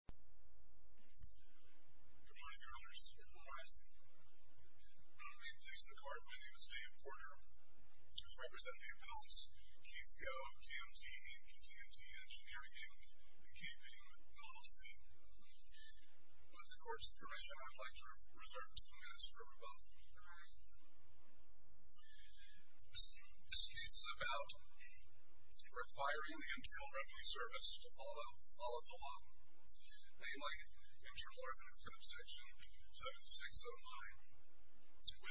Good morning, Your Honors. Good morning. May it please the Court, my name is Dave Porter. I represent the appellants, Keith Go, KMT Inc., KMT Engineering Inc., and KPMG Policy. With the Court's permission, I would like to reserve a few minutes for rebuttal. This case is about requiring the Internal Revenue Service to follow the law, namely Internal Revenue Code Section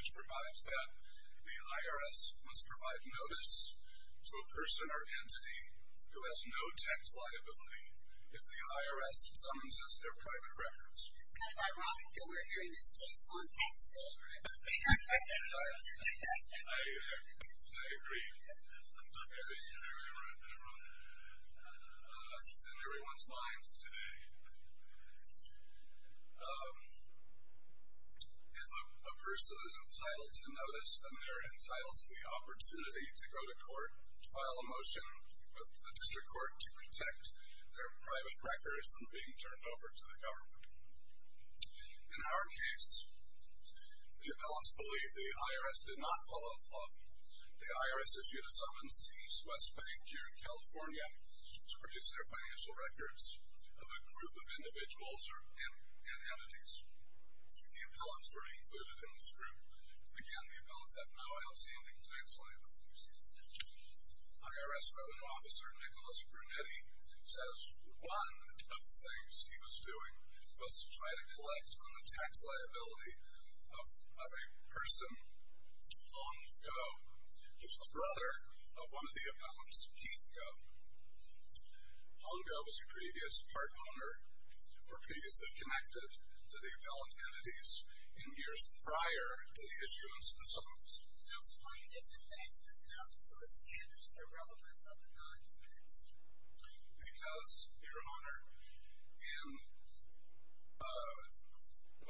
70609, which provides that the IRS must provide notice to a person or entity who has no tax liability if the IRS summonses their private records. It's kind of ironic that we're hearing this case on tax day. I agree. I agree with everyone. It's in everyone's minds today. If a person is entitled to notice, then they're entitled to the opportunity to go to court, to file a motion with the district court to protect their private records from being turned over to the government. In our case, the appellants believe the IRS did not follow the law. The IRS issued a summons to East West Bank, here in California, to purchase their financial records of a group of individuals and entities. The appellants were included in this group. Again, the appellants have no outstanding tax liability. IRS Revenue Officer Nicholas Brunetti says one of the things he was doing was to try to collect on the tax liability of a person, Hong Go, who's the brother of one of the appellants, Keith Go. Hong Go was a previous part owner, or previously connected to the appellant entities, in years prior to the issuance of the summons. Why isn't that good enough to escalate the relevance of the non-events? Because, Your Honor,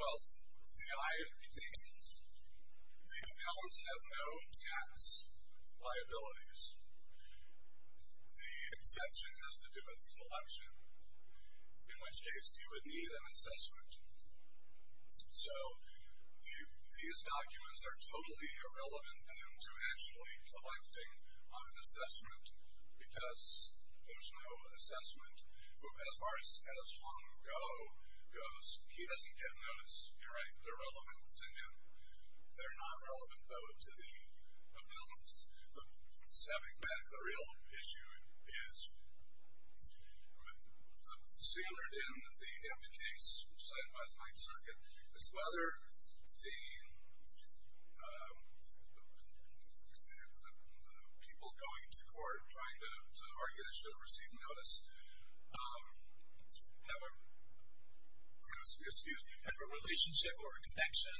the appellants have no tax liabilities. The exception has to do with his election. In which case, you would need an assessment. So, these documents are totally irrelevant then to actually collecting on an assessment, because there's no assessment. As far as Hong Go goes, he doesn't get notice. You're right, they're relevant to him. They're not relevant, though, to the appellants. Stabbing back, the real issue is, the standard in the empty case, signed by the Ninth Circuit, is whether the people going to court, trying to argue they should have received notice, have a relationship or a connection.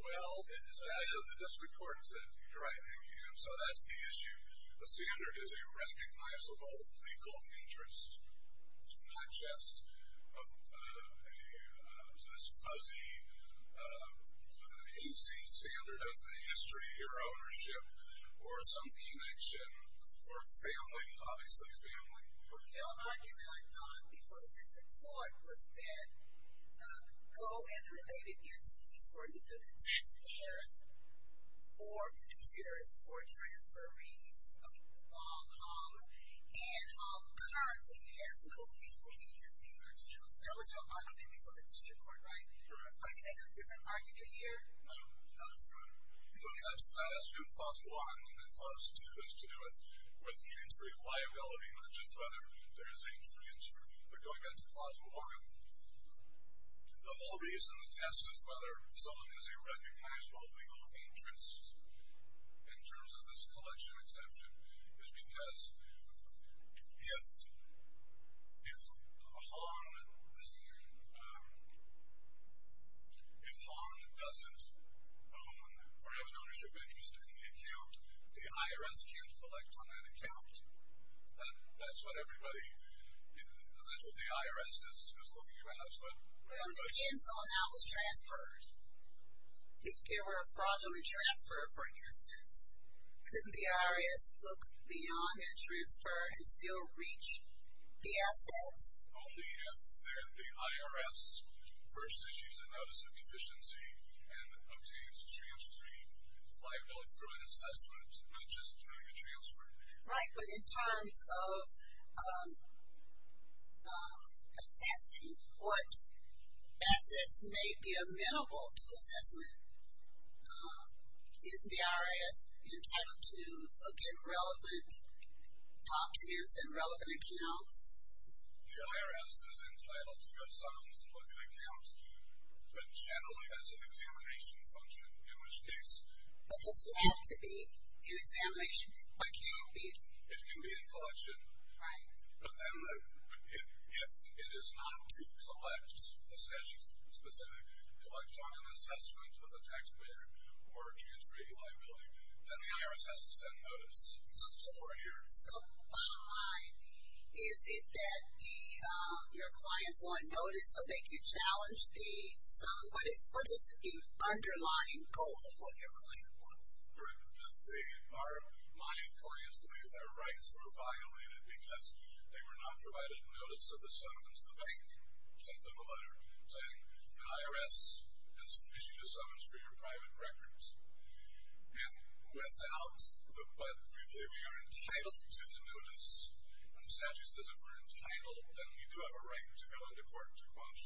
Well, the District Court said, you're right, Amy, so that's the issue. The standard is a recognizable legal interest, not just this fuzzy, hazy standard of history or ownership, or some connection, or family, obviously family. The real argument, I thought, before the District Court was that Go and the related entities were either the tax payers, or fiduciaries, or transferees of Wong Hong, and how currently it has no legal interest in our district. That was your argument before the District Court, right? You're right. Are you making a different argument here? No, Your Honor. It only has to do with Clause 1, and then Clause 2 has to do with James' reliability, not just whether there is any experience for going into clause 1. The whole reason the test is whether someone has a recognizable legal interest, in terms of this collection exception, is because if Hong doesn't own or have an ownership interest in the account, the IRS can't collect on that account. That's what everybody, that's what the IRS is looking at. Well, it depends on how it was transferred. If there were a fraudulent transfer, for instance, couldn't the IRS look beyond that transfer and still reach the assets? Only if the IRS first issues a notice of deficiency and obtains transferring liability through an assessment, not just during a transfer. Right, but in terms of assessing what assets may be amenable to assessment, is the IRS entitled to look at relevant documents and relevant accounts? The IRS is entitled to go some and look at accounts, but generally has an examination function in which case. But does it have to be an examination? It can be. It can be a collection. Right. But then if it is not to collect a specific, collect on an assessment with a taxpayer or transfer a liability, then the IRS has to send notice. So, bottom line, is it that your clients want notice so they can challenge the sum? What is the underlying goal of what your client wants? My clients believe their rights were violated because they were not provided notice of the summons. The bank sent them a letter saying, the IRS has issued a summons for your private records. And without the but, we believe we are entitled to the notice. And the statute says if we're entitled, then we do have a right to go into court to quash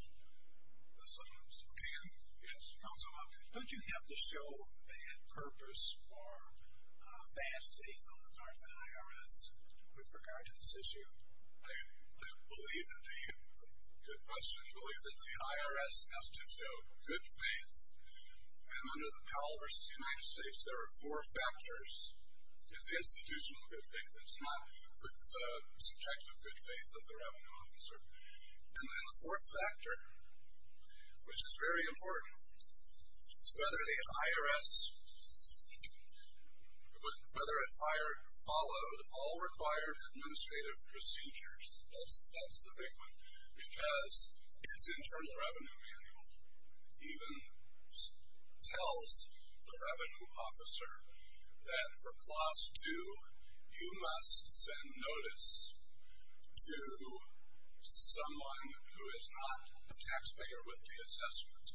the summons. Okay. Yes. Counsel, don't you have to show bad purpose or bad faith on the part of the IRS with regard to this issue? I believe that the IRS has to show good faith. And under the Powell v. United States, there are four factors. It's the institutional good faith. It's not the subjective good faith of the revenue officer. And then the fourth factor, which is very important, is whether the IRS followed all required administrative procedures. That's the big one. Because its Internal Revenue Manual even tells the revenue officer that for Clause 2, you must send notice to someone who is not a taxpayer with the assessment.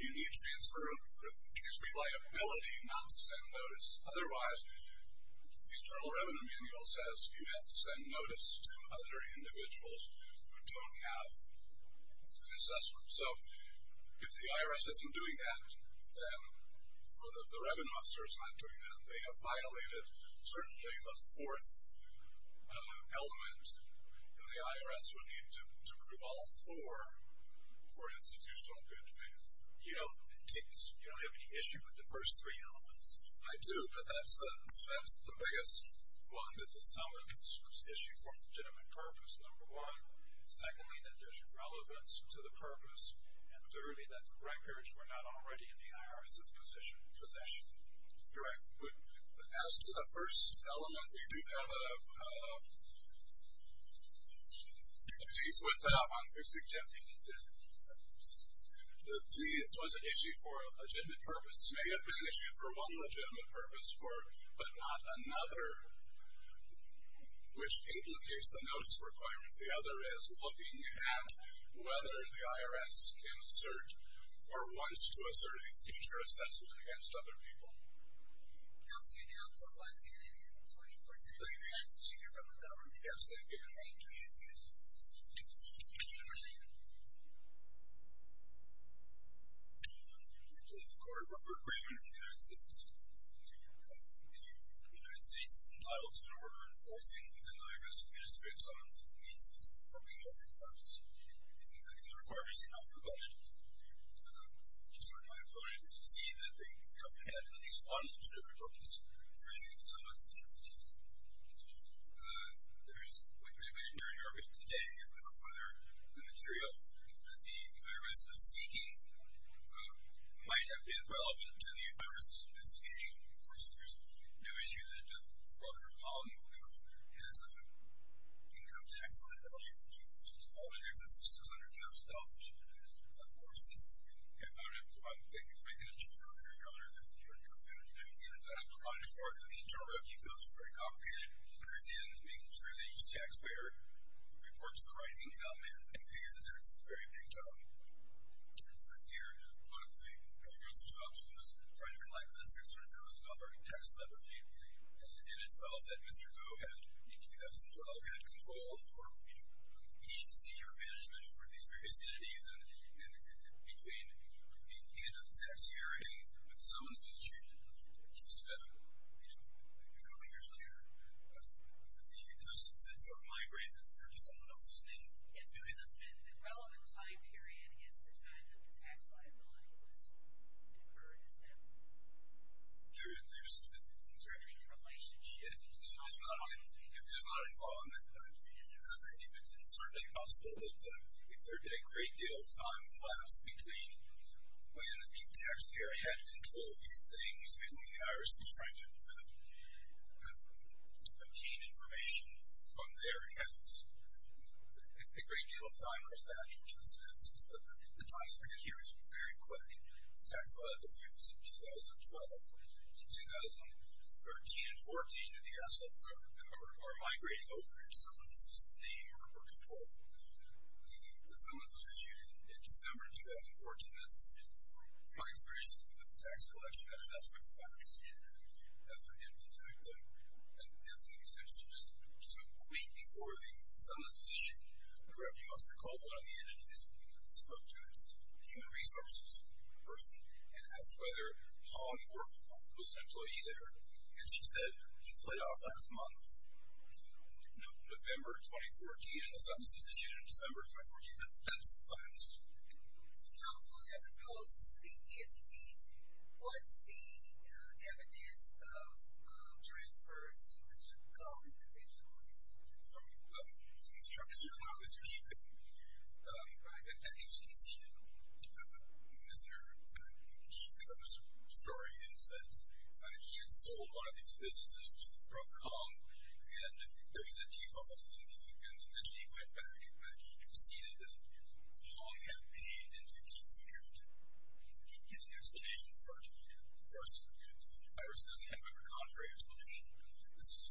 You need to transfer liability not to send notice. Otherwise, the Internal Revenue Manual says you have to send notice So if the IRS isn't doing that, or the revenue officer is not doing that, they have violated certainly the fourth element, and the IRS would need to prove all four for institutional good faith. You don't have any issue with the first three elements? I do, but that's the biggest one, is the summons. Issue for legitimate purpose, number one. Secondly, that there's relevance to the purpose. And thirdly, that the records were not already in the IRS's possession. You're right. But as to the first element, we do have a brief without one. You're suggesting that there was an issue for a legitimate purpose. May have been an issue for one legitimate purpose, but not another, which implicates the notice requirement. The other is looking at whether the IRS can assert or wants to assert a future assessment against other people. Counsel, you're down to one minute and 24 seconds. Thank you. You have to hear from the government. Yes, thank you. Thank you. Thank you. This is the Court of Appropriation for the United States. The United States is entitled to an order enforcing within the IRS administrative zones that meets these appropriate requirements. If the requirements are not provided, it is for my opponent to see that they come ahead and at least one legitimate purpose for issuing the summons. There's quite a bit of nerdy argument today about whether the material that the IRS was seeking might have been relevant to the IRS's investigation. Of course, there's no issue that a brother of Pauline Blue has an income tax on the value of the jewels, all in excess of $600,000. Of course, it's not enough to buy them. Thank you for making it too early, Your Honor. You're welcome. It's not enough to buy them. In terms of income, it's very complicated. But, again, it's making sure that each taxpayer reports the right income and pays the taxes. It's a very big job. Your Honor, one of the comprehensive jobs was trying to collect that $600,000 tax levy, and it solved that Mr. Go had, in 2012, had control or agency or management over these various entities. And between the end of the tax year and someone's pension, which was spent a couple years later, the assets sort of migrated over to someone else's name. The relevant time period is the time that the tax liability was incurred, isn't it? During the relationship. There's not a flaw in that. It's certainly possible that if there did a great deal of time collapse between when the taxpayer had control of these things and the IRS was trying to obtain information from their accounts, a great deal of time was that. The taxpayer here is very quick. The tax liability was in 2012. In 2013 and 14, the assets are migrating over to someone else's name or control. Someone else was issued in December of 2014. From my experience with the tax collection, that is not the final decision. In fact, just a week before the sentence was issued, you must recall one of the entities spoke to us, human resources person, and asked whether Hong was an employee there. And she said she played off last month, November 2014, and the sentence was issued in December 2014. That's last. Counsel, as opposed to the entities, what's the evidence of transfers to Mr. Koh individually? Mr. Keith Koh. Mr. Keith Koh. He conceded. Mr. Keith Koh's story is that he had sold one of his businesses to Hong, and there was a default on the entity. He conceded that Hong had paid into Keith's account. He gives an explanation for it. Of course, the IRS doesn't have a contrary explanation. This is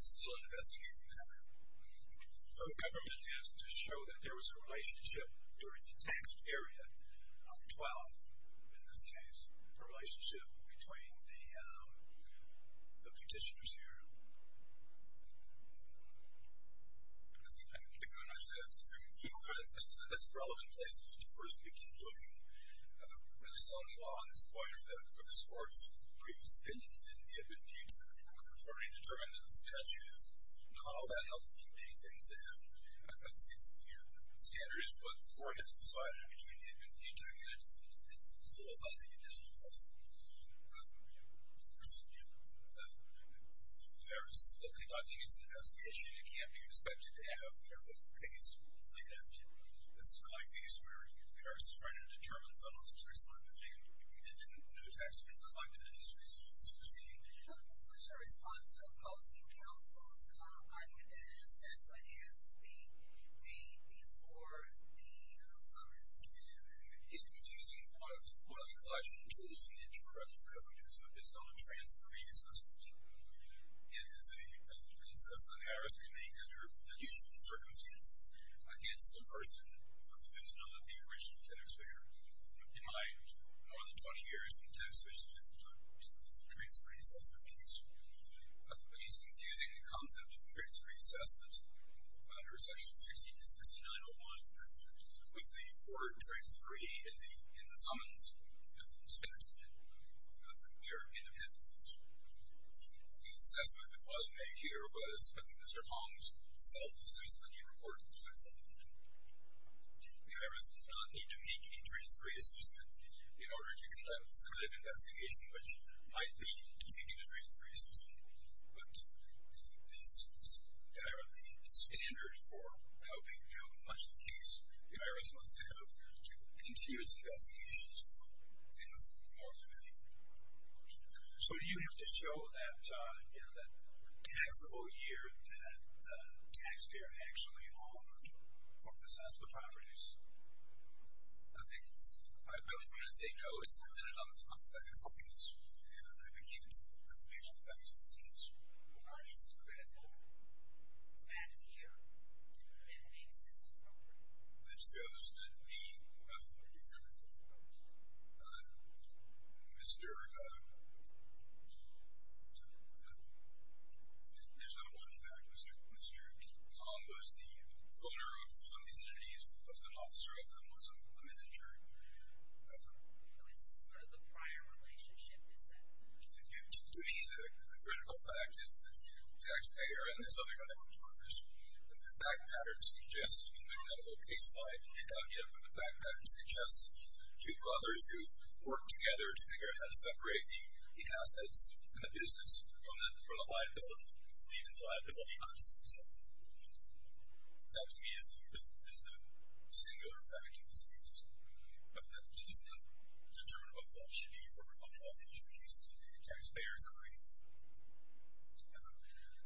still an investigative matter. So the government has to show that there was a relationship during the tax period of 12, in this case, a relationship between the petitioners here. I think I'm going to go next to you, because that's a relevant place for a person to keep looking. Really the only law on this point are the court's previous opinions in the Admin-Future. It's already determined that the statute is not all that helpful in paying things in. I'd say the standard is what the court has decided between the Admin-Future, and it's a little fuzzy initially, because the IRS is still conducting its investigation. It can't be expected to have their own case laid out. This is going to be a case where the IRS is trying to determine someone's responsibility, and then when the tax period is collected, it is reasonable to concede. What's your response to opposing counsel's argument that an assessment has to be made before the summons is issued? It's confusing. One of the classic tools in the Interim Code is known as transferee assessments. It is an assessment that the IRS can make under unusual circumstances against a person who is not the original tax payer. In my more than 20 years in the tax division, I've done a lot of transferee assessment case. It's confusing the concept of transferee assessments under Section 60-69-01 with the word transferee in the summons, and it's not in the Interim Code. The assessment that was made here was, I think, Mr. Hong's self-assessment. He reported the transferee assessment. The IRS does not need to make a transferee assessment in order to conduct this kind of investigation, which might lead to making a transferee assessment, but the standard for helping to do much of the case, the IRS wants to help to continue its investigations for things more than a million dollars. So do you have to show that taxable year that the tax payer actually owned or possessed the properties? I think it's – I always wanted to say no. I think it's something that's – I can't comment on the fact that it's in this case. Why is the credit card added here? Who then makes this property? It goes to the – Who decides this property? Mr. – There's not one fact. Mr. Hong was the owner of some of these entities, was an officer of them, was a manager. So it's sort of the prior relationship is that. To me, the critical fact is that the tax payer and this other guy were the owners. And the fact pattern suggests, and we've got a little case slide out here, but the fact pattern suggests two brothers who worked together to figure out how to separate the assets and the business from the liability, even the liability on its own. That, to me, is the singular fact in this case, but that it is not determined what that should be for rebuttal in future cases. The tax payers are free.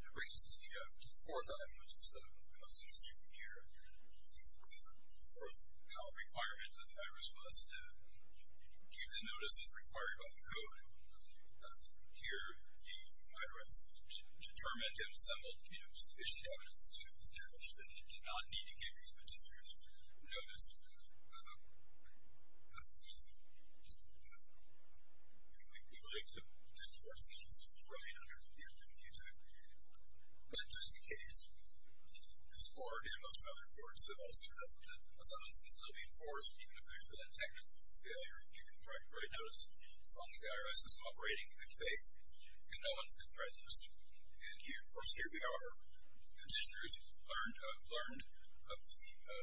The greatest idea of the fourth item, which is the house of duty of the mayor, the fourth power requirement of the IRS was to give the notices required by the code. Here, the IRS determined and assembled sufficient evidence to establish that it did not need to give these petitioners notice. We believe that this court's case is running under the end of future. But just in case, this court and most other courts have also held that summons can still be enforced even if there's been a technical failure as long as the IRS is operating in good faith and no one's been prejudiced. And, of course, here we are. Petitioners learned of the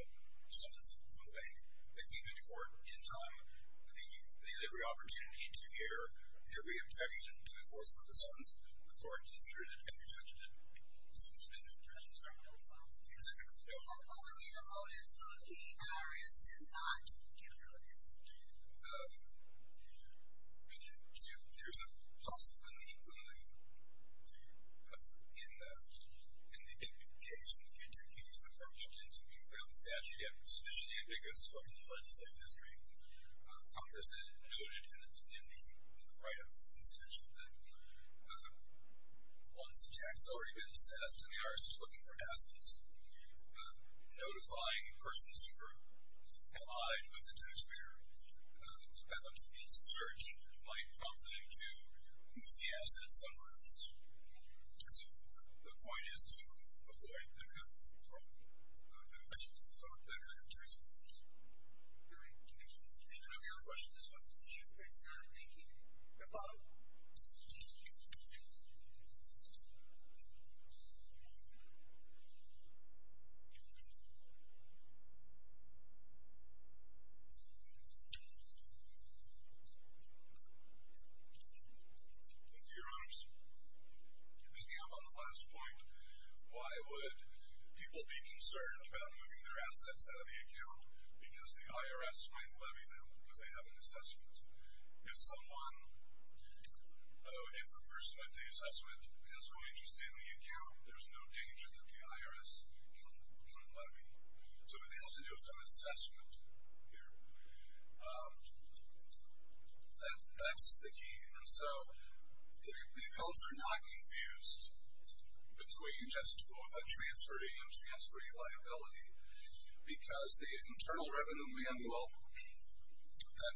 summons from the bank. They came into court in time. They had every opportunity to hear every objection to enforcement of the summons. The court considered it and rejected it. So there's been no prejudice? No. What would be the motive of the IRS to not give notice? There's a possibility in the case, in the future case, that there are options to be found. It's actually sufficiently ambiguous to look in the legislative history. Congress noted, and it's in the write-up of the constitution, that once the tax has already been assessed and the IRS is looking for assets, notifying persons who are allied with the taxpayer, perhaps in search, might prompt them to move the asset somewhere else. So the point is to avoid that kind of problem, that kind of tax abuse. All right. Thank you. And I'm going to rush to this one. Sure. Thank you. Mr. Potter. Thank you, Your Honors. Picking up on the last point, why would people be concerned about moving their assets out of the account because the IRS might levy them because they have an assessment? If someone, if a person at the assessment has no interest in the account, there's no danger that the IRS can levy. So it has to do with an assessment here. That's the key. And so the accounts are not confused between just a transferring and transferring liability because the internal revenue manual that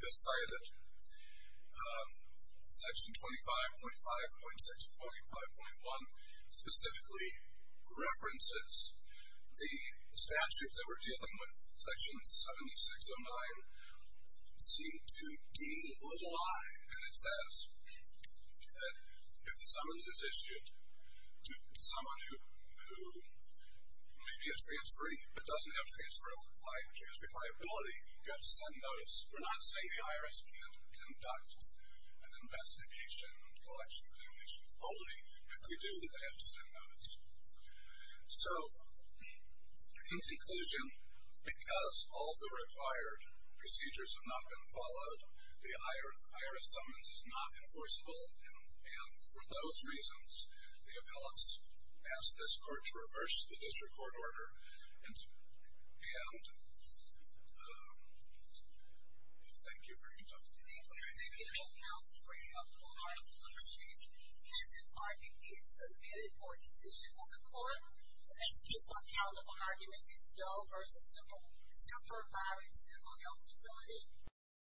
is cited, Section 25.5.6.5.1 specifically references the statute that we're dealing with, Section 7609C2Di. And it says that if the summons is issued to someone who may be a transferee but doesn't have transfer liability, you have to send notice. We're not saying the IRS can't conduct an investigation, collection, examination only. If they do, they have to send notice. So in conclusion, because all the required procedures have not been followed, the IRS summons is not enforceable. And for those reasons, the appellants asked this court to reverse the district court order. And thank you very much. Thank you. Thank you, General Counsel for your hard work. I appreciate it. This is argument is submitted for decision on the court. The next case on count of argument is Doe v. Silver Firewoods Mental Health Facility.